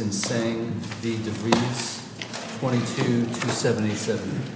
and Seng v. DeVries, 22-277.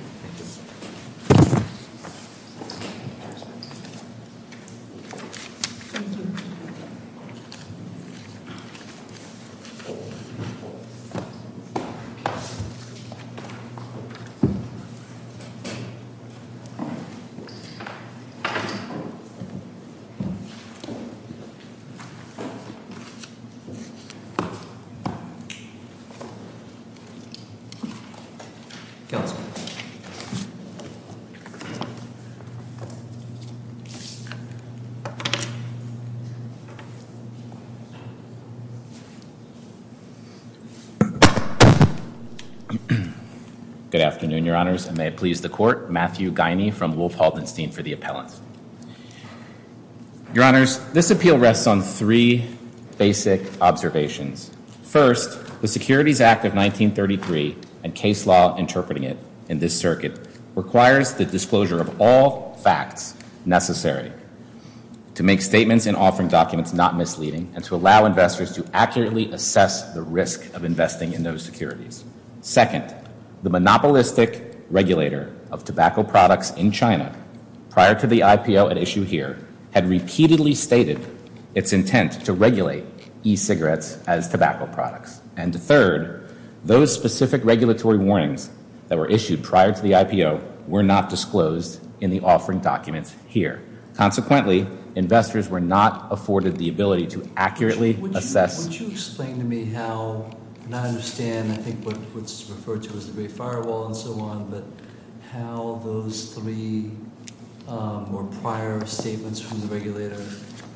Good afternoon, Your Honors, and may it please the Court, Matthew Guiney from Wolf Haldenstein for the appellants. Your Honors, this appeal rests on three basic observations. First, the Securities Act of 1933 and case law interpreting it in this circuit requires the disclosure of all facts necessary to make statements and offering documents not misleading and to allow investors to accurately assess the risk of investing in those securities. Second, the monopolistic regulator of tobacco products in China prior to the IPO at issue here had repeatedly stated its intent to regulate e-cigarettes as tobacco products. And third, those specific regulatory warnings that were issued prior to the IPO were not disclosed in the offering documents here. Consequently, investors were not afforded the ability to accurately assess... Would you explain to me how, and I understand I think what's referred to as the Great Firewall and so on, but how those three prior statements from the regulator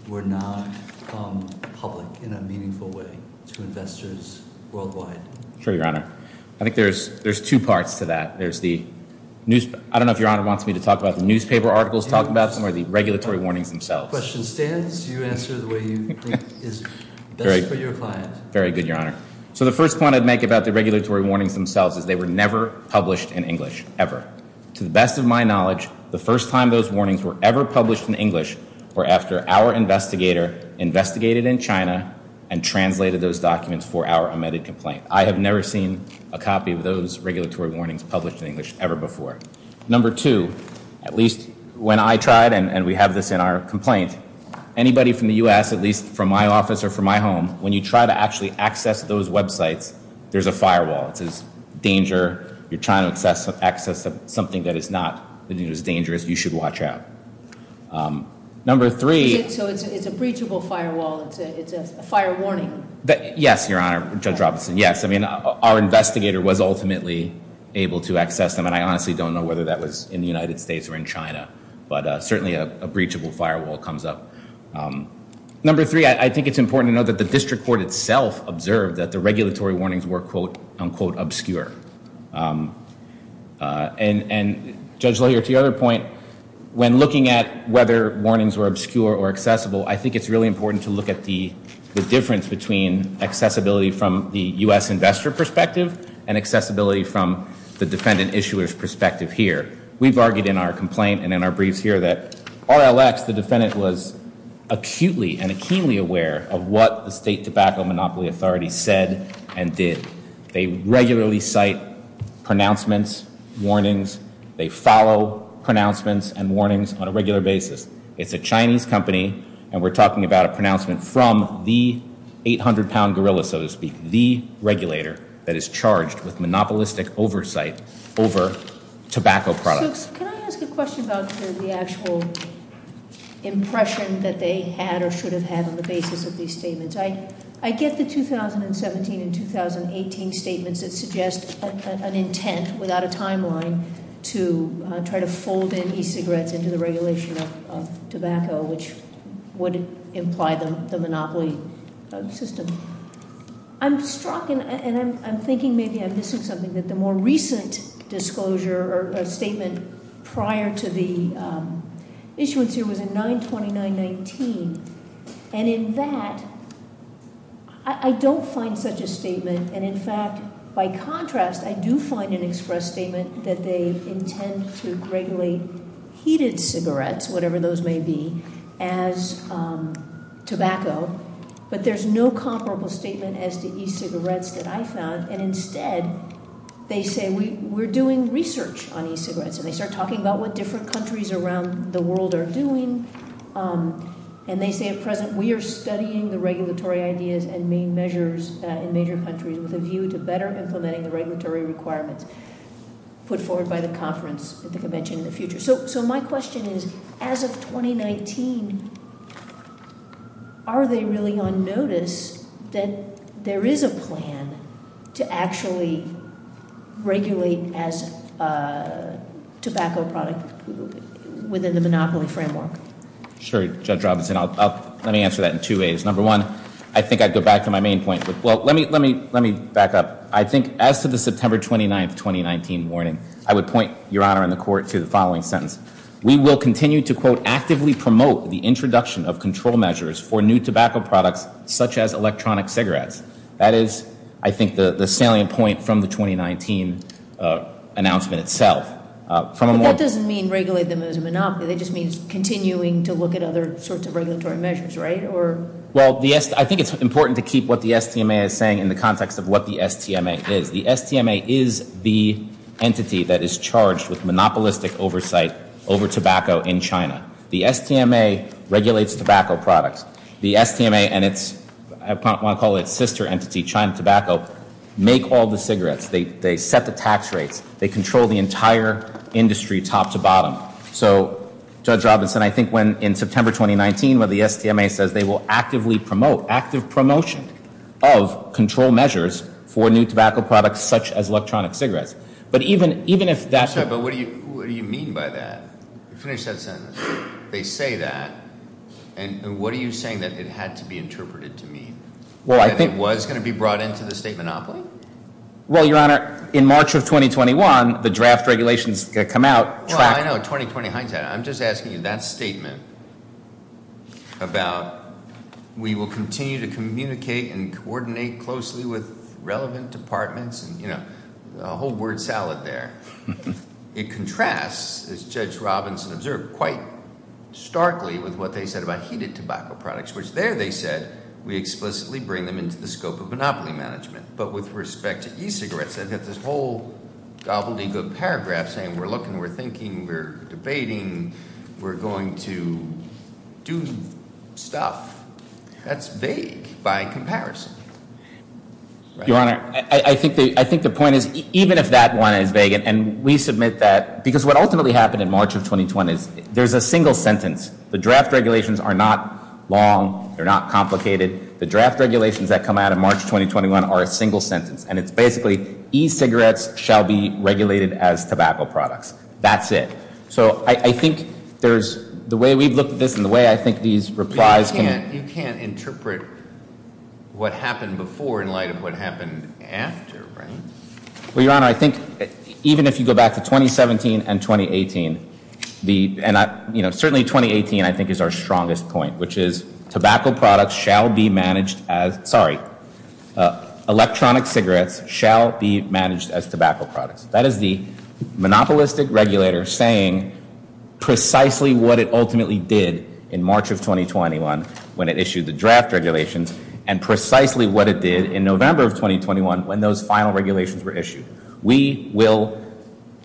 were not public in a meaningful way to investors worldwide? Sure, Your Honor. I think there's two parts to that. I don't know if Your Honor wants me to talk about the newspaper articles talking about them or the regulatory warnings themselves. Question stands. Do you answer the way you think is best for your client? Very good, Your Honor. So the first point I'd make about the regulatory warnings themselves is they were never published in English, ever. To the best of my knowledge, the first time those warnings were ever published in English were after our investigator investigated in China and translated those documents for our omitted complaint. I have never seen a copy of those regulatory warnings published in English ever before. Number two, at least when I tried, and we have this in our complaint, anybody from the U.S., at least from my office or from my home, when you try to actually access those websites, there's a firewall. It's a danger. You're trying to access something that is not as dangerous. You should watch out. Number three... So it's a breachable firewall. It's a fire warning. Yes, Your Honor, Judge Robinson, yes. I mean, our investigator was ultimately able to access them, and I honestly don't know whether that was in the United States or in China. But certainly a breachable firewall comes up. Number three, I think it's important to note that the district court itself observed that the regulatory warnings were, quote, unquote, obscure. And Judge LaHier, to your other point, when looking at whether warnings were obscure or accessible, I think it's really important to look at the difference between accessibility from the U.S. investor perspective and accessibility from the defendant issuer's perspective here. We've argued in our complaint and in our briefs here that RLX, the defendant, was acutely and keenly aware of what the State Tobacco Monopoly Authority said and did. They regularly cite pronouncements, warnings. They follow pronouncements and warnings on a regular basis. It's a Chinese company, and we're talking about a pronouncement from the 800-pound gorilla, so to speak, the regulator that is charged with monopolistic oversight over tobacco products. So can I ask a question about the actual impression that they had or should have had on the basis of these statements? I get the 2017 and 2018 statements that suggest an intent without a timeline to try to fold in e-cigarettes into the regulation of tobacco, which would imply the monopoly system. I'm struck, and I'm thinking maybe I'm missing something, that the more recent disclosure or statement prior to the issuance here was in 92919. And in that, I don't find such a statement. And in fact, by contrast, I do find an express statement that they intend to regulate heated cigarettes, whatever those may be, as tobacco. But there's no comparable statement as to e-cigarettes that I found. And instead, they say, we're doing research on e-cigarettes. And they start talking about what different countries around the world are doing. And they say, at present, we are studying the regulatory ideas and main measures in major countries with a view to better implementing the regulatory requirements put forward by the conference at the convention in the future. So my question is, as of 2019, are they really on notice that there is a plan to actually regulate as a tobacco product within the monopoly framework? Sure, Judge Robinson. Let me answer that in two ways. Number one, I think I'd go back to my main point. Well, let me back up. I think as to the September 29, 2019, warning, I would point, Your Honor and the Court, to the following sentence. We will continue to, quote, actively promote the introduction of control measures for new tobacco products such as electronic cigarettes. That is, I think, the salient point from the 2019 announcement itself. But that doesn't mean regulate them as a monopoly. That just means continuing to look at other sorts of regulatory measures, right? Well, I think it's important to keep what the STMA is saying in the context of what the STMA is. The STMA is the entity that is charged with monopolistic oversight over tobacco in China. The STMA regulates tobacco products. The STMA and its sister entity, China Tobacco, make all the cigarettes. They set the tax rates. They control the entire industry top to bottom. So, Judge Robinson, I think when, in September 2019, when the STMA says they will actively promote, active promotion of control measures for new tobacco products such as electronic cigarettes. But even if that's- I'm sorry, but what do you mean by that? Finish that sentence. They say that. And what are you saying that it had to be interpreted to mean? Well, I think- That it was going to be brought into the state monopoly? Well, Your Honor, in March of 2021, the draft regulations are going to come out. Well, I know. 2020 hindsight. I'm just asking you that statement about we will continue to communicate and coordinate closely with relevant departments. You know, a whole word salad there. It contrasts, as Judge Robinson observed, quite starkly with what they said about heated tobacco products, which there they said we explicitly bring them into the scope of monopoly management. But with respect to e-cigarettes, they have this whole gobbledygook paragraph saying we're looking, we're thinking, we're debating, we're going to do stuff. That's vague by comparison. Your Honor, I think the point is, even if that one is vague, and we submit that, because what ultimately happened in March of 2021 is there's a single sentence. The draft regulations are not long. They're not complicated. The draft regulations that come out in March 2021 are a single sentence, and it's basically e-cigarettes shall be regulated as tobacco products. That's it. So I think there's the way we've looked at this and the way I think these replies can. You can't interpret what happened before in light of what happened after, right? Well, Your Honor, I think even if you go back to 2017 and 2018, and certainly 2018 I think is our strongest point, which is tobacco products shall be managed as, sorry, electronic cigarettes shall be managed as tobacco products. That is the monopolistic regulator saying precisely what it ultimately did in March of 2021 when it issued the draft regulations and precisely what it did in November of 2021 when those final regulations were issued. We will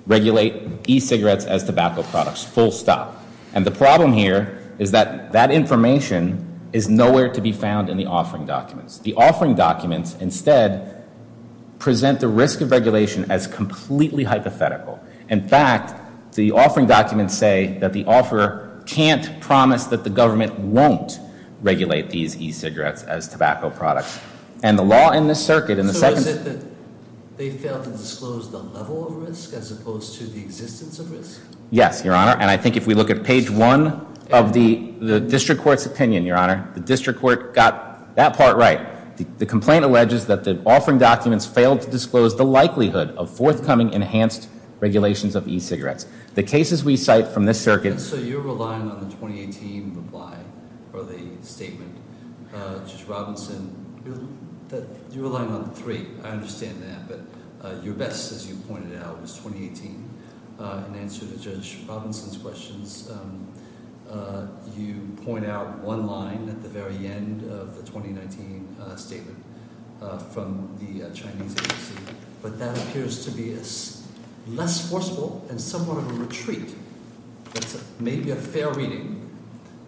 regulate e-cigarettes as tobacco products, full stop. And the problem here is that that information is nowhere to be found in the offering documents. The offering documents instead present the risk of regulation as completely hypothetical. In fact, the offering documents say that the offeror can't promise that the government won't regulate these e-cigarettes as tobacco products. So is it that they failed to disclose the level of risk as opposed to the existence of risk? Yes, Your Honor, and I think if we look at page one of the district court's opinion, Your Honor, the district court got that part right. The complaint alleges that the offering documents failed to disclose the likelihood of forthcoming enhanced regulations of e-cigarettes. The cases we cite from this circuit. So you're relying on the 2018 reply or the statement, Judge Robinson, that you're relying on three. I understand that. But your best, as you pointed out, was 2018. In answer to Judge Robinson's questions, you point out one line at the very end of the 2019 statement from the Chinese agency. But that appears to be less forceful and somewhat of a retreat. Maybe a fair reading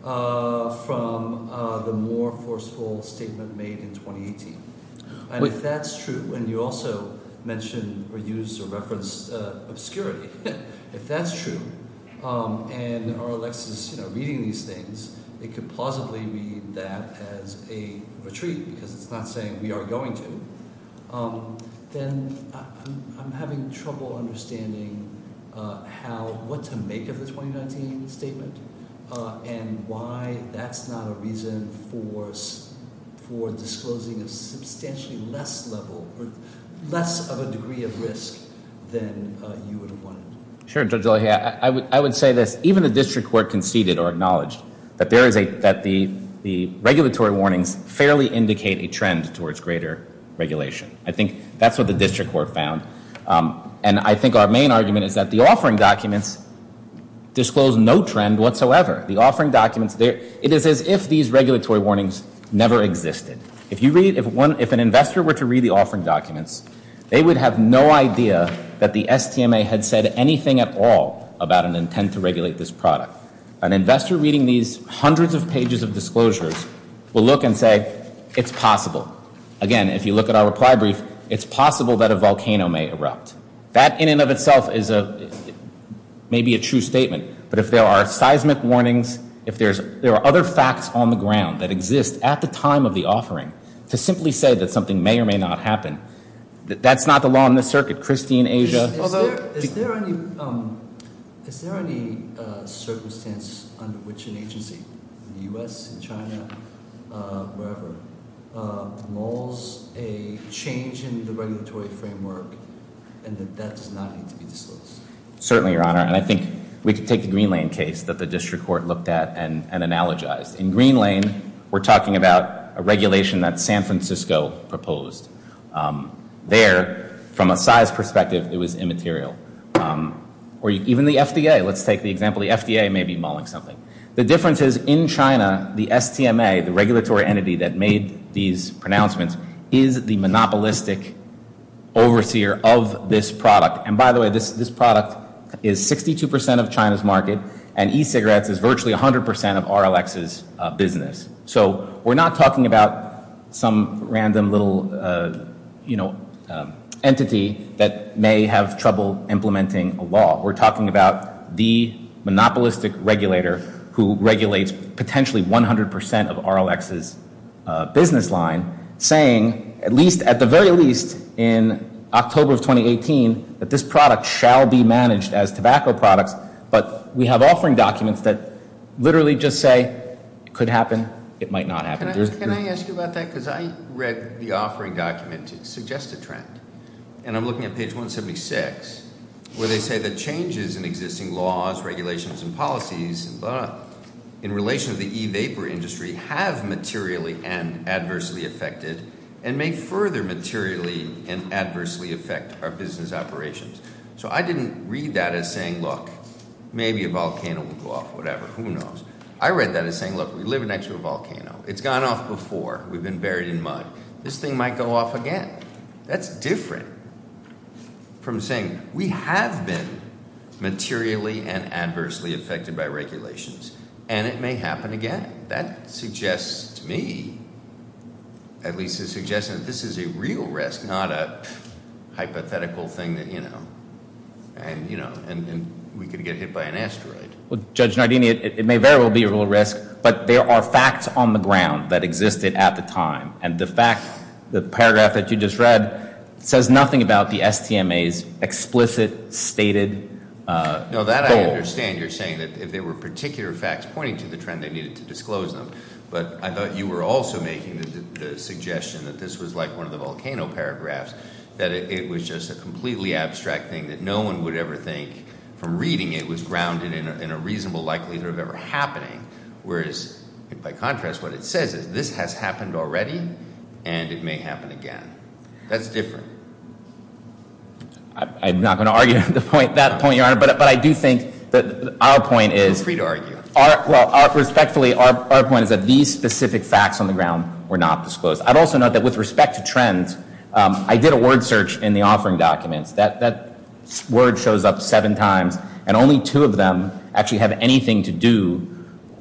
from the more forceful statement made in 2018. And if that's true, and you also mentioned or used or referenced obscurity, if that's true, and are Alexis reading these things, it could plausibly be that as a retreat because it's not saying we are going to. Then I'm having trouble understanding how, what to make of the 2019 statement and why that's not a reason for disclosing a substantially less level or less of a degree of risk than you would have wanted. Sure, Judge O'Leary. I would say this. Even the district court conceded or acknowledged that the regulatory warnings fairly indicate a trend towards greater regulation. I think that's what the district court found. And I think our main argument is that the offering documents disclose no trend whatsoever. The offering documents, it is as if these regulatory warnings never existed. If an investor were to read the offering documents, they would have no idea that the STMA had said anything at all about an intent to regulate this product. An investor reading these hundreds of pages of disclosures will look and say, it's possible. Again, if you look at our reply brief, it's possible that a volcano may erupt. That in and of itself may be a true statement. But if there are seismic warnings, if there are other facts on the ground that exist at the time of the offering, to simply say that something may or may not happen, that's not the law in this circuit. Christie in Asia- Is there any circumstance under which an agency, the US, China, wherever, malls a change in the regulatory framework and that that does not need to be disclosed? Certainly, Your Honor. And I think we can take the Green Lane case that the district court looked at and analogized. In Green Lane, we're talking about a regulation that San Francisco proposed. There, from a size perspective, it was immaterial. Or even the FDA. Let's take the example the FDA may be mauling something. The difference is, in China, the STMA, the regulatory entity that made these pronouncements, is the monopolistic overseer of this product. And by the way, this product is 62% of China's market. And e-cigarettes is virtually 100% of RLX's business. So we're not talking about some random little entity that may have trouble implementing a law. We're talking about the monopolistic regulator who regulates potentially 100% of RLX's business line, saying, at the very least, in October of 2018, that this product shall be managed as tobacco products. But we have offering documents that literally just say, it could happen, it might not happen. Can I ask you about that? Because I read the offering document to suggest a trend. And I'm looking at page 176, where they say that changes in existing laws, regulations, and policies, in relation to the e-vapor industry, have materially and adversely affected, and may further materially and adversely affect our business operations. So I didn't read that as saying, look, maybe a volcano will go off, whatever, who knows. I read that as saying, look, we live next to a volcano. It's gone off before. We've been buried in mud. This thing might go off again. That's different from saying, we have been materially and adversely affected by regulations, and it may happen again. That suggests to me, at least it suggests that this is a real risk, not a hypothetical thing that, you know, we could get hit by an asteroid. Judge Nardini, it may very well be a real risk, but there are facts on the ground that existed at the time. And the fact, the paragraph that you just read, says nothing about the STMA's explicit, stated goal. No, that I understand. You're saying that if there were particular facts pointing to the trend, they needed to disclose them. But I thought you were also making the suggestion that this was like one of the volcano paragraphs, that it was just a completely abstract thing that no one would ever think, from reading it, was grounded in a reasonable likelihood of ever happening. Whereas, by contrast, what it says is, this has happened already, and it may happen again. That's different. I'm not going to argue that point, Your Honor, but I do think that our point is... Feel free to argue. Well, respectfully, our point is that these specific facts on the ground were not disclosed. I'd also note that with respect to trends, I did a word search in the offering documents. That word shows up seven times, and only two of them actually have anything to do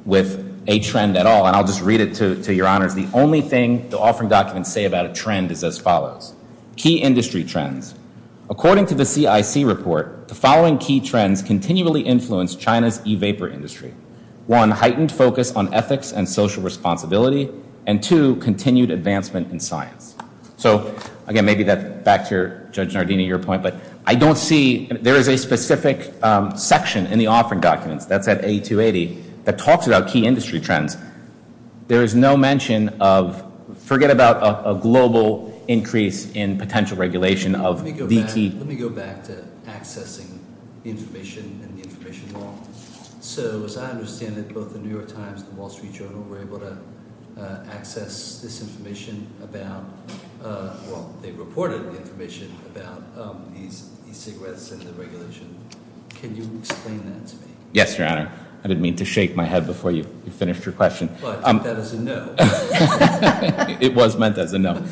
with a trend at all. And I'll just read it to Your Honors. The only thing the offering documents say about a trend is as follows. Key industry trends. According to the CIC report, the following key trends continually influence China's e-vapor industry. One, heightened focus on ethics and social responsibility. And two, continued advancement in science. So, again, maybe that's back to Judge Nardini, your point. But I don't see... There is a specific section in the offering documents, that's at A280, that talks about key industry trends. There is no mention of... Forget about a global increase in potential regulation of VT. Let me go back to accessing information and the information wall. So, as I understand it, both the New York Times and the Wall Street Journal were able to access this information about... Well, they reported information about these cigarettes and the regulation. Can you explain that to me? Yes, Your Honor. I didn't mean to shake my head before you finished your question. But that is a no. It was meant as a no.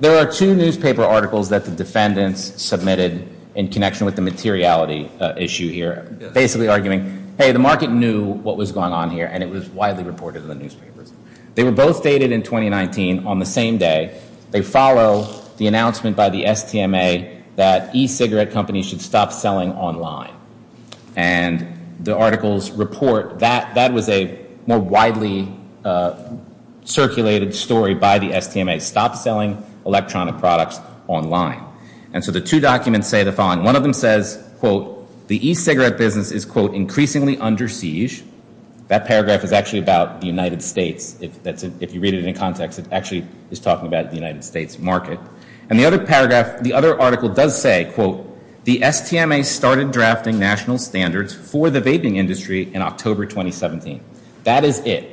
There are two newspaper articles that the defendants submitted in connection with the materiality issue here, basically arguing, hey, the market knew what was going on here, and it was widely reported in the newspapers. They were both dated in 2019 on the same day. They follow the announcement by the STMA that e-cigarette companies should stop selling online. And the articles report that that was a more widely circulated story by the STMA, stop selling electronic products online. And so the two documents say the following. One of them says, quote, the e-cigarette business is, quote, increasingly under siege. That paragraph is actually about the United States. If you read it in context, it actually is talking about the United States market. And the other paragraph, the other article does say, quote, the STMA started drafting national standards for the vaping industry in October 2017. That is it.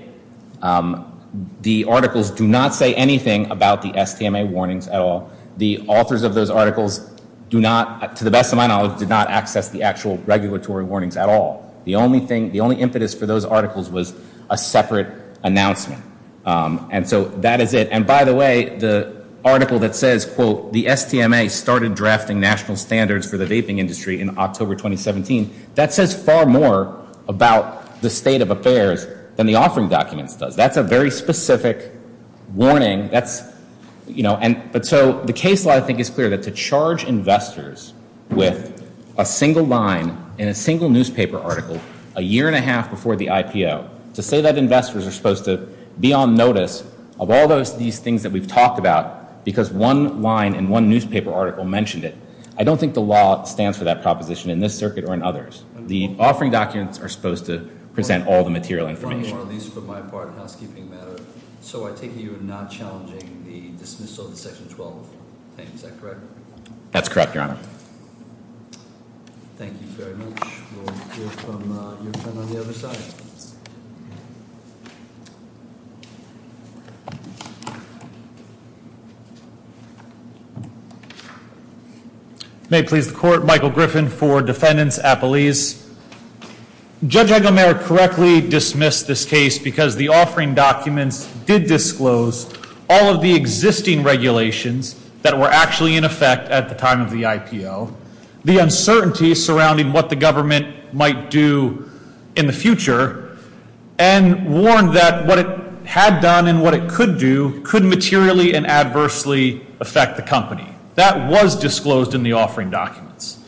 The articles do not say anything about the STMA warnings at all. The authors of those articles do not, to the best of my knowledge, do not access the actual regulatory warnings at all. The only thing, the only impetus for those articles was a separate announcement. And so that is it. And by the way, the article that says, quote, the STMA started drafting national standards for the vaping industry in October 2017, that says far more about the state of affairs than the authoring documents does. That's a very specific warning. But so the case law, I think, is clear that to charge investors with a single line in a single newspaper article a year and a half before the IPO, to say that investors are supposed to be on notice of all these things that we've talked about because one line in one newspaper article mentioned it, I don't think the law stands for that proposition in this circuit or in others. The authoring documents are supposed to present all the material information. At least for my part in the housekeeping matter. So I take it you're not challenging the dismissal of the Section 12 thing. Is that correct? That's correct, Your Honor. Thank you very much. We'll hear from your friend on the other side. May it please the Court, Michael Griffin for defendants, appellees. Judge Eggemeyer correctly dismissed this case because the offering documents did disclose all of the existing regulations that were actually in effect at the time of the IPO, the uncertainty surrounding what the government might do in the future, and warned that what it had done and what it could do could materially and adversely affect the company. That was disclosed in the offering documents.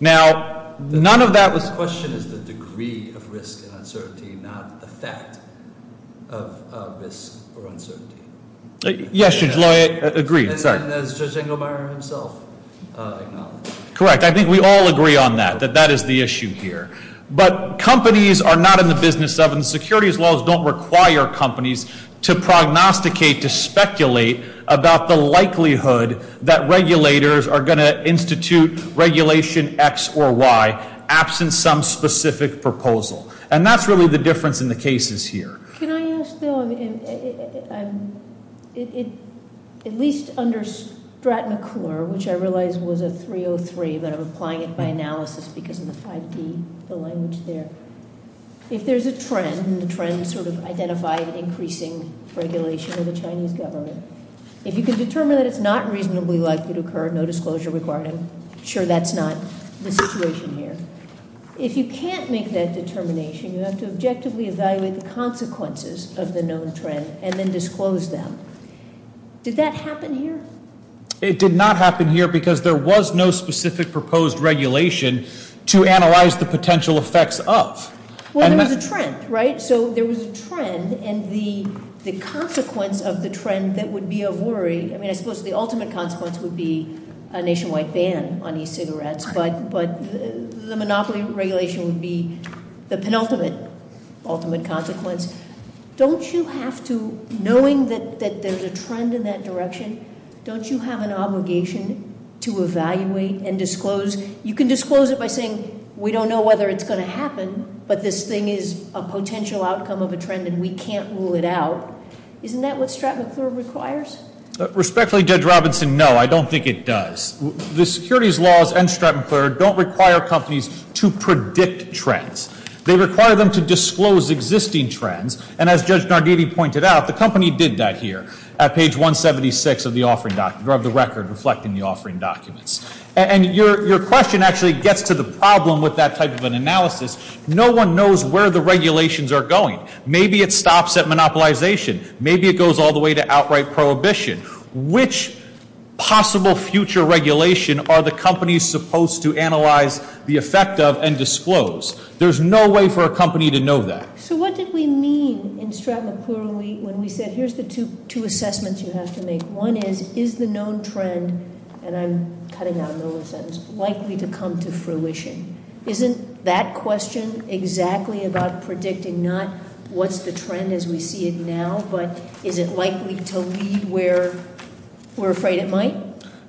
Now, none of that was... The question is the degree of risk and uncertainty, not the fact of risk or uncertainty. Yes, Judge Loy, I agree. And as Judge Eggemeyer himself acknowledged. Correct. I think we all agree on that, that that is the issue here. But companies are not in the business of, and securities laws don't require companies to prognosticate, to speculate about the likelihood that regulators are going to institute regulation X or Y absent some specific proposal. And that's really the difference in the cases here. Can I ask, though, at least under Stratton-McClure, which I realize was a 303, but I'm applying it by analysis because of the 5D, the language there. If there's a trend, and the trend sort of identified increasing regulation of the Chinese government, if you can determine that it's not reasonably likely to occur, no disclosure required, I'm sure that's not the situation here. If you can't make that determination, you have to objectively evaluate the consequences of the known trend and then disclose them. Did that happen here? It did not happen here because there was no specific proposed regulation to analyze the potential effects of. Well, there was a trend, right? So there was a trend, and the consequence of the trend that would be of worry, I mean, I suppose the ultimate consequence would be a nationwide ban on e-cigarettes, but the monopoly regulation would be the penultimate ultimate consequence. Don't you have to, knowing that there's a trend in that direction, don't you have an obligation to evaluate and disclose? You can disclose it by saying, we don't know whether it's going to happen, but this thing is a potential outcome of a trend, and we can't rule it out. Isn't that what Stratton-McClure requires? Respectfully, Judge Robinson, no, I don't think it does. The securities laws and Stratton-McClure don't require companies to predict trends. They require them to disclose existing trends, and as Judge Nardini pointed out, the company did that here at page 176 of the record reflecting the offering documents. And your question actually gets to the problem with that type of an analysis. No one knows where the regulations are going. Maybe it stops at monopolization. Maybe it goes all the way to outright prohibition. Which possible future regulation are the companies supposed to analyze the effect of and disclose? There's no way for a company to know that. So what did we mean in Stratton-McClure when we said, here's the two assessments you have to make. One is, is the known trend, and I'm cutting out in the middle of the sentence, likely to come to fruition? Isn't that question exactly about predicting, not what's the trend as we see it now, but is it likely to lead where we're afraid it might?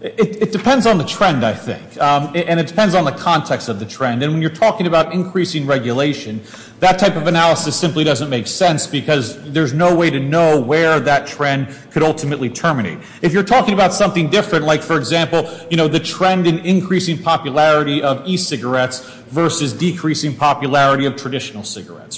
It depends on the trend, I think. And it depends on the context of the trend. And when you're talking about increasing regulation, that type of analysis simply doesn't make sense because there's no way to know where that trend could ultimately terminate. If you're talking about something different, like, for example, the trend in increasing popularity of e-cigarettes versus decreasing popularity of traditional cigarettes.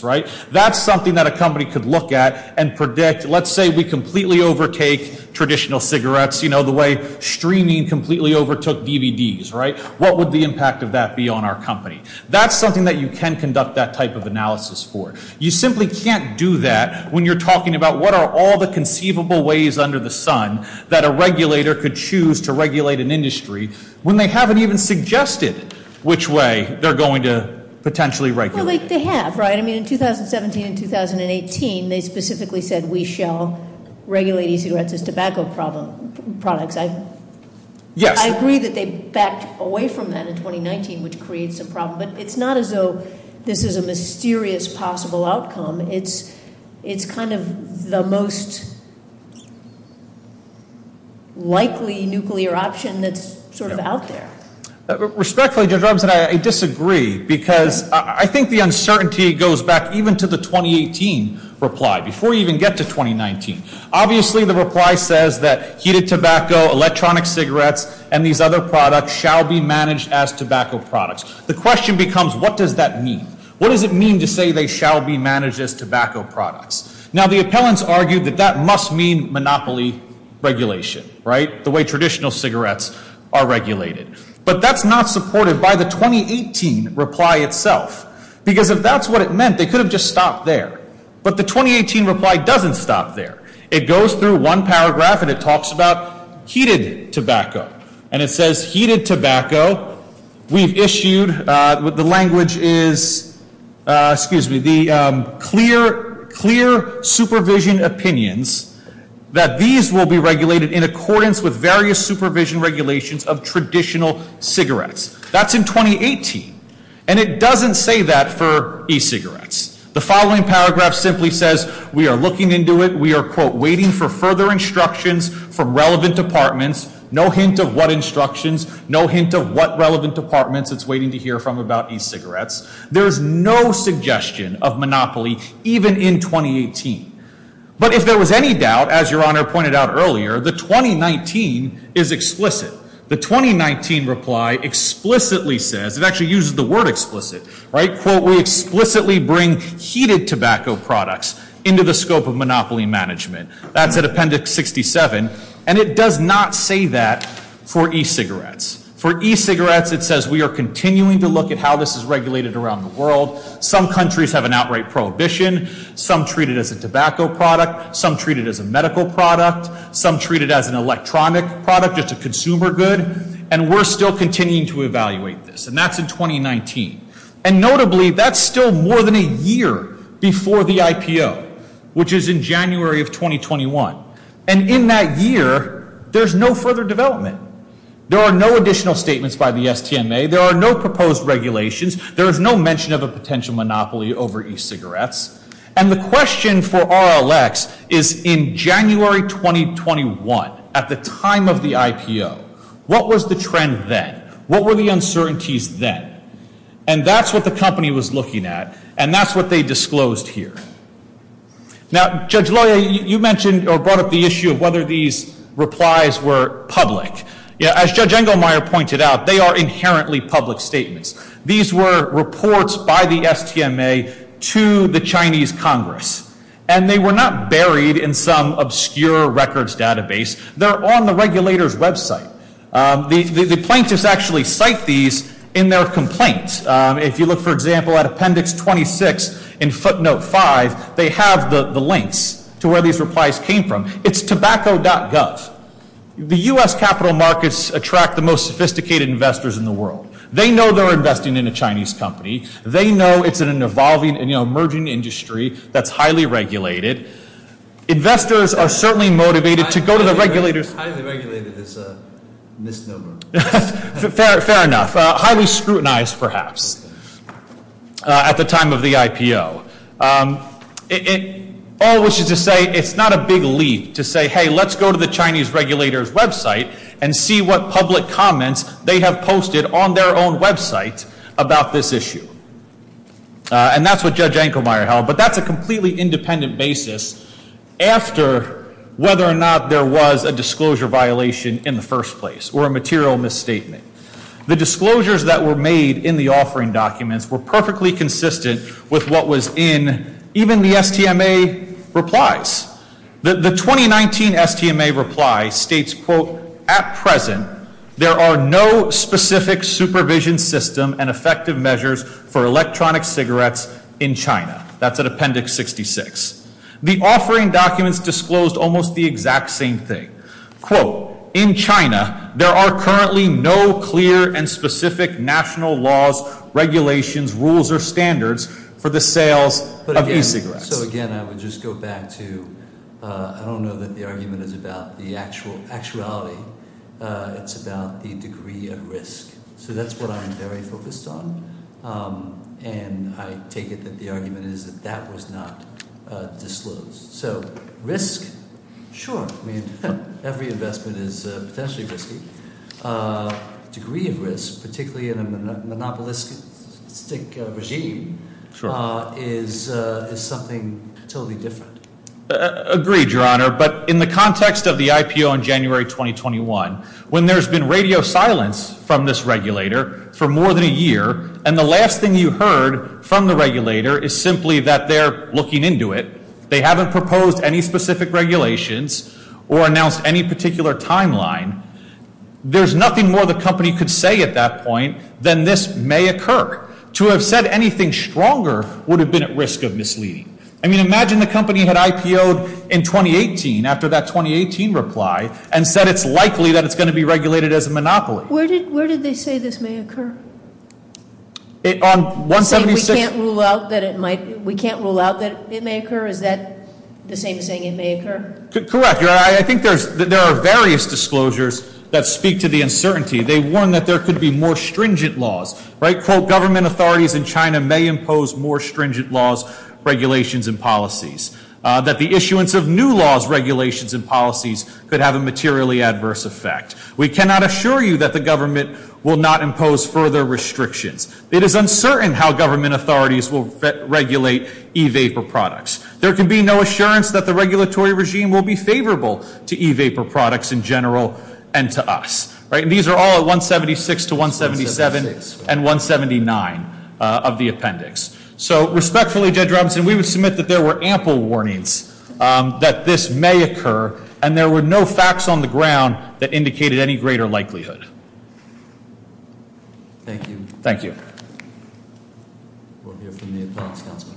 That's something that a company could look at and predict. Let's say we completely overtake traditional cigarettes, the way streaming completely overtook DVDs. What would the impact of that be on our company? That's something that you can conduct that type of analysis for. You simply can't do that when you're talking about what are all the conceivable ways under the sun that a regulator could choose to regulate an industry when they haven't even suggested which way they're going to potentially regulate it. Well, they have, right? I mean, in 2017 and 2018, they specifically said, we shall regulate e-cigarettes as tobacco products. I agree that they backed away from that in 2019, which creates a problem. But it's not as though this is a mysterious possible outcome. It's kind of the most likely nuclear option that's sort of out there. Respectfully, Judge Robinson, I disagree. Because I think the uncertainty goes back even to the 2018 reply, before you even get to 2019. Obviously, the reply says that heated tobacco, electronic cigarettes, and these other products shall be managed as tobacco products. The question becomes, what does that mean? What does it mean to say they shall be managed as tobacco products? Now, the appellants argued that that must mean monopoly regulation, right, the way traditional cigarettes are regulated. But that's not supported by the 2018 reply itself. Because if that's what it meant, they could have just stopped there. But the 2018 reply doesn't stop there. It goes through one paragraph, and it talks about heated tobacco. And it says, heated tobacco, we've issued, the language is, excuse me, the clear supervision opinions that these will be regulated in accordance with various supervision regulations of traditional cigarettes. That's in 2018. And it doesn't say that for e-cigarettes. The following paragraph simply says, we are looking into it. We are, quote, waiting for further instructions from relevant departments. No hint of what instructions. No hint of what relevant departments it's waiting to hear from about e-cigarettes. There's no suggestion of monopoly, even in 2018. But if there was any doubt, as Your Honor pointed out earlier, the 2019 is explicit. The 2019 reply explicitly says, it actually uses the word explicit, right, quote, we explicitly bring heated tobacco products into the scope of monopoly management. That's at Appendix 67. And it does not say that for e-cigarettes. For e-cigarettes, it says, we are continuing to look at how this is regulated around the world. Some countries have an outright prohibition. Some treat it as a tobacco product. Some treat it as a medical product. Some treat it as an electronic product, just a consumer good. And we're still continuing to evaluate this. And that's in 2019. And notably, that's still more than a year before the IPO, which is in January of 2021. And in that year, there's no further development. There are no additional statements by the STMA. There are no proposed regulations. There is no mention of a potential monopoly over e-cigarettes. And the question for RLX is, in January 2021, at the time of the IPO, what was the trend then? What were the uncertainties then? And that's what the company was looking at. And that's what they disclosed here. Now, Judge Loya, you mentioned or brought up the issue of whether these replies were public. As Judge Engelmeyer pointed out, they are inherently public statements. These were reports by the STMA to the Chinese Congress. And they were not buried in some obscure records database. They're on the regulator's website. The plaintiffs actually cite these in their complaints. If you look, for example, at Appendix 26 in footnote 5, they have the links to where these replies came from. It's tobacco.gov. The U.S. capital markets attract the most sophisticated investors in the world. They know they're investing in a Chinese company. They know it's an evolving and emerging industry that's highly regulated. Investors are certainly motivated to go to the regulators. Highly regulated is a misnomer. Fair enough. Highly scrutinized, perhaps, at the time of the IPO. All this is to say it's not a big leap to say, hey, let's go to the Chinese regulators' website and see what public comments they have posted on their own website about this issue. And that's what Judge Engelmeyer held. But that's a completely independent basis after whether or not there was a disclosure violation in the first place or a material misstatement. The disclosures that were made in the offering documents were perfectly consistent with what was in even the STMA replies. The 2019 STMA reply states, quote, at present, there are no specific supervision system and effective measures for electronic cigarettes in China. That's at Appendix 66. The offering documents disclosed almost the exact same thing. Quote, in China, there are currently no clear and specific national laws, regulations, rules, or standards for the sales of e-cigarettes. So, again, I would just go back to I don't know that the argument is about the actual actuality. It's about the degree of risk. So that's what I'm very focused on. And I take it that the argument is that that was not disclosed. So risk, sure. I mean, every investment is potentially risky. Degree of risk, particularly in a monopolistic regime, is something totally different. Agreed, Your Honor. But in the context of the IPO in January 2021, when there's been radio silence from this regulator for more than a year, and the last thing you heard from the regulator is simply that they're looking into it, they haven't proposed any specific regulations or announced any particular timeline, there's nothing more the company could say at that point than this may occur. To have said anything stronger would have been at risk of misleading. I mean, imagine the company had IPO'd in 2018 after that 2018 reply and said it's likely that it's going to be regulated as a monopoly. Where did they say this may occur? On 176? You're saying we can't rule out that it may occur? Is that the same as saying it may occur? Correct, Your Honor. I think there are various disclosures that speak to the uncertainty. They warn that there could be more stringent laws. Right? Quote, government authorities in China may impose more stringent laws, regulations, and policies. That the issuance of new laws, regulations, and policies could have a materially adverse effect. We cannot assure you that the government will not impose further restrictions. It is uncertain how government authorities will regulate e-vapor products. There can be no assurance that the regulatory regime will be favorable to e-vapor products in general and to us. Right? And these are all at 176 to 177 and 179 of the appendix. So respectfully, Judge Robinson, we would submit that there were ample warnings that this may occur. And there were no facts on the ground that indicated any greater likelihood. Thank you. Thank you. We'll hear from the appellant's counsel.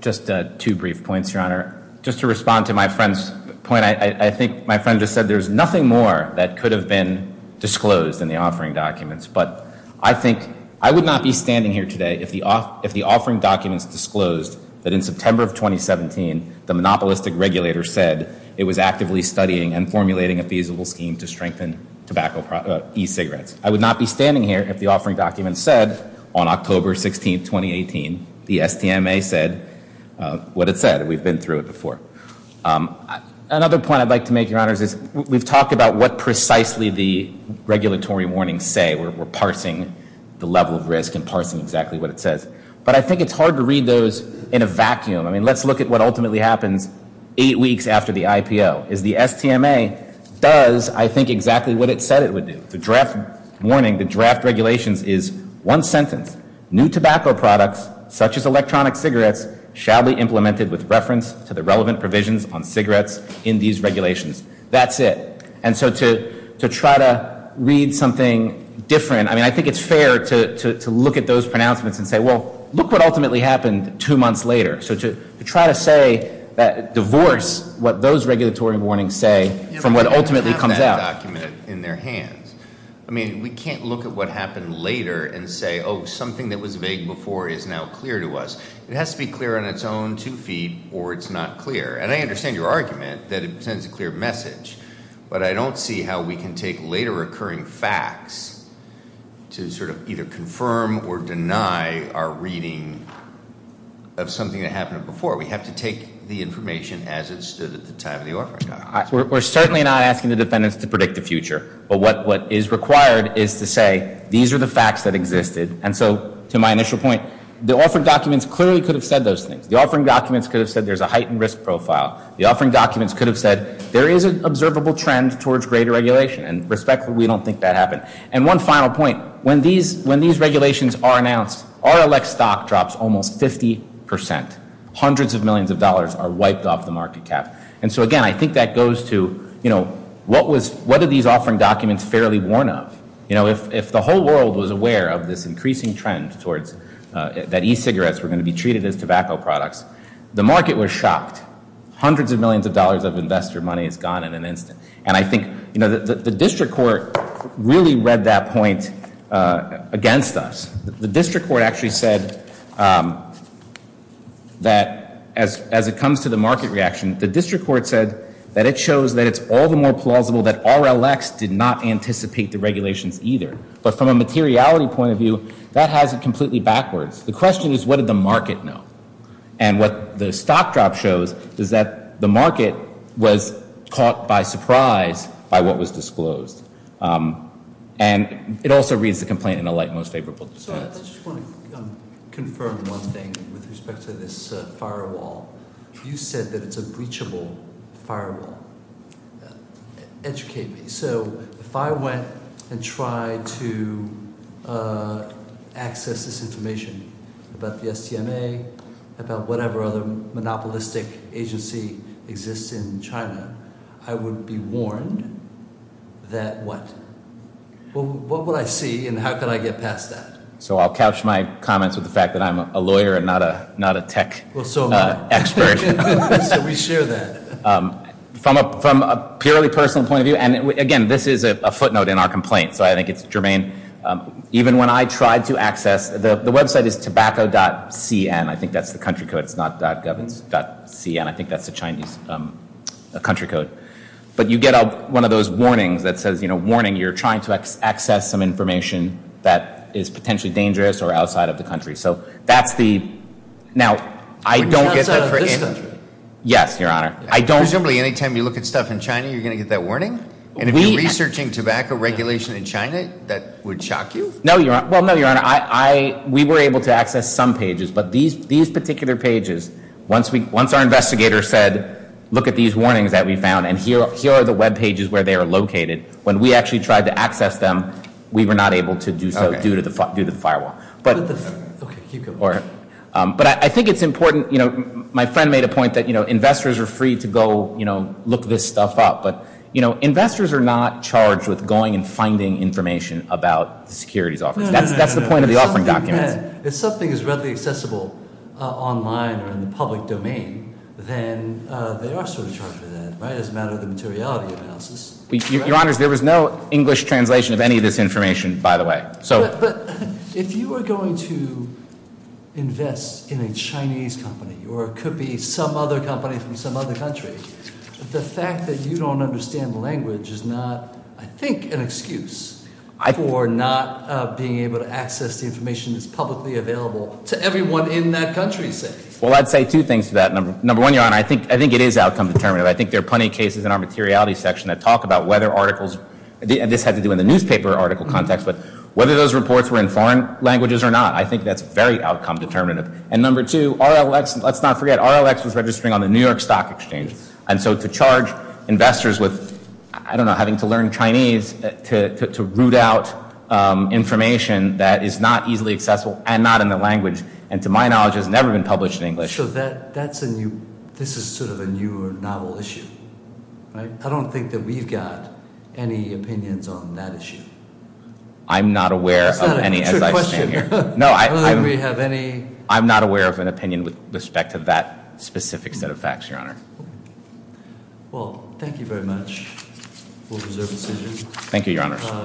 Just two brief points, Your Honor. Just to respond to my friend's point, I think my friend just said there's nothing more that could have been disclosed in the offering documents. But I think, I would not be standing here today if the offering documents disclosed that in September of 2017, the monopolistic regulator said it was actively studying and formulating a feasible scheme to strengthen tobacco e-cigarettes. I would not be standing here if the offering documents said on October 16, 2018, the STMA said what it said. And we've been through it before. Another point I'd like to make, Your Honors, is we've talked about what precisely the regulatory warnings say. We're parsing the level of risk and parsing exactly what it says. But I think it's hard to read those in a vacuum. I mean, let's look at what ultimately happens eight weeks after the IPO. Is the STMA does, I think, exactly what it said it would do. The draft warning, the draft regulations is one sentence. New tobacco products, such as electronic cigarettes, shall be implemented with reference to the relevant provisions on cigarettes in these regulations. That's it. And so to try to read something different, I mean, I think it's fair to look at those pronouncements and say, well, look what ultimately happened two months later. So to try to say, divorce what those regulatory warnings say from what ultimately comes out. In their hands. I mean, we can't look at what happened later and say, oh, something that was vague before is now clear to us. It has to be clear on its own two feet or it's not clear. And I understand your argument that it sends a clear message. But I don't see how we can take later occurring facts to sort of either confirm or deny our reading of something that happened before. We have to take the information as it stood at the time of the orphan. We're certainly not asking the defendants to predict the future. But what is required is to say these are the facts that existed. And so to my initial point, the orphan documents clearly could have said those things. The offering documents could have said there's a heightened risk profile. The offering documents could have said there is an observable trend towards greater regulation. And respectfully, we don't think that happened. And one final point. When these regulations are announced, RLX stock drops almost 50%. Hundreds of millions of dollars are wiped off the market cap. And so, again, I think that goes to, you know, what are these offering documents fairly worn of? You know, if the whole world was aware of this increasing trend towards that e-cigarettes were going to be treated as tobacco products, the market was shocked. Hundreds of millions of dollars of investor money is gone in an instant. And I think, you know, the district court really read that point against us. The district court actually said that as it comes to the market reaction, the district court said that it shows that it's all the more plausible that RLX did not anticipate the regulations either. But from a materiality point of view, that has it completely backwards. The question is, what did the market know? And what the stock drop shows is that the market was caught by surprise by what was disclosed. And it also reads the complaint in the light most favorable. So I just want to confirm one thing with respect to this firewall. You said that it's a breachable firewall. Educate me. So if I went and tried to access this information about the STMA, about whatever other monopolistic agency exists in China, I would be warned that what? What would I see and how could I get past that? So I'll couch my comments with the fact that I'm a lawyer and not a tech expert. So we share that. From a purely personal point of view, and again, this is a footnote in our complaint. So I think it's germane. Even when I tried to access, the website is tobacco.cn. I think that's the country code. It's not .gov, it's .cn. I think that's the Chinese country code. But you get one of those warnings that says, you know, warning, you're trying to access some information that is potentially dangerous or outside of the country. So that's the. Now, I don't get that. Yes, Your Honor. I don't. Presumably any time you look at stuff in China, you're going to get that warning? And if you're researching tobacco regulation in China, that would shock you? No, Your Honor. Well, no, Your Honor. We were able to access some pages. But these particular pages, once our investigator said, look at these warnings that we found, and here are the webpages where they are located, when we actually tried to access them, we were not able to do so due to the firewall. But I think it's important. You know, my friend made a point that, you know, investors are free to go, you know, look this stuff up. But, you know, investors are not charged with going and finding information about the securities office. That's the point of the offering documents. Again, if something is readily accessible online or in the public domain, then they are sort of charged with that, right, as a matter of the materiality analysis. Your Honors, there was no English translation of any of this information, by the way. But if you were going to invest in a Chinese company or it could be some other company from some other country, the fact that you don't understand the language is not, I think, an excuse for not being able to access the information that's publicly available to everyone in that country. Well, I'd say two things to that. Number one, Your Honor, I think it is outcome determinative. I think there are plenty of cases in our materiality section that talk about whether articles, and this had to do with the newspaper article context, but whether those reports were in foreign languages or not. I think that's very outcome determinative. And number two, RLX, let's not forget, RLX was registering on the New York Stock Exchange. And so to charge investors with, I don't know, having to learn Chinese to root out information that is not easily accessible and not in the language, and to my knowledge has never been published in English. So that's a new, this is sort of a new or novel issue, right? And I don't think that we've got any opinions on that issue. I'm not aware of any, as I stand here. No, I'm not aware of an opinion with respect to that specific set of facts, Your Honor. Well, thank you very much. We'll reserve the decision. Thank you, Your Honor.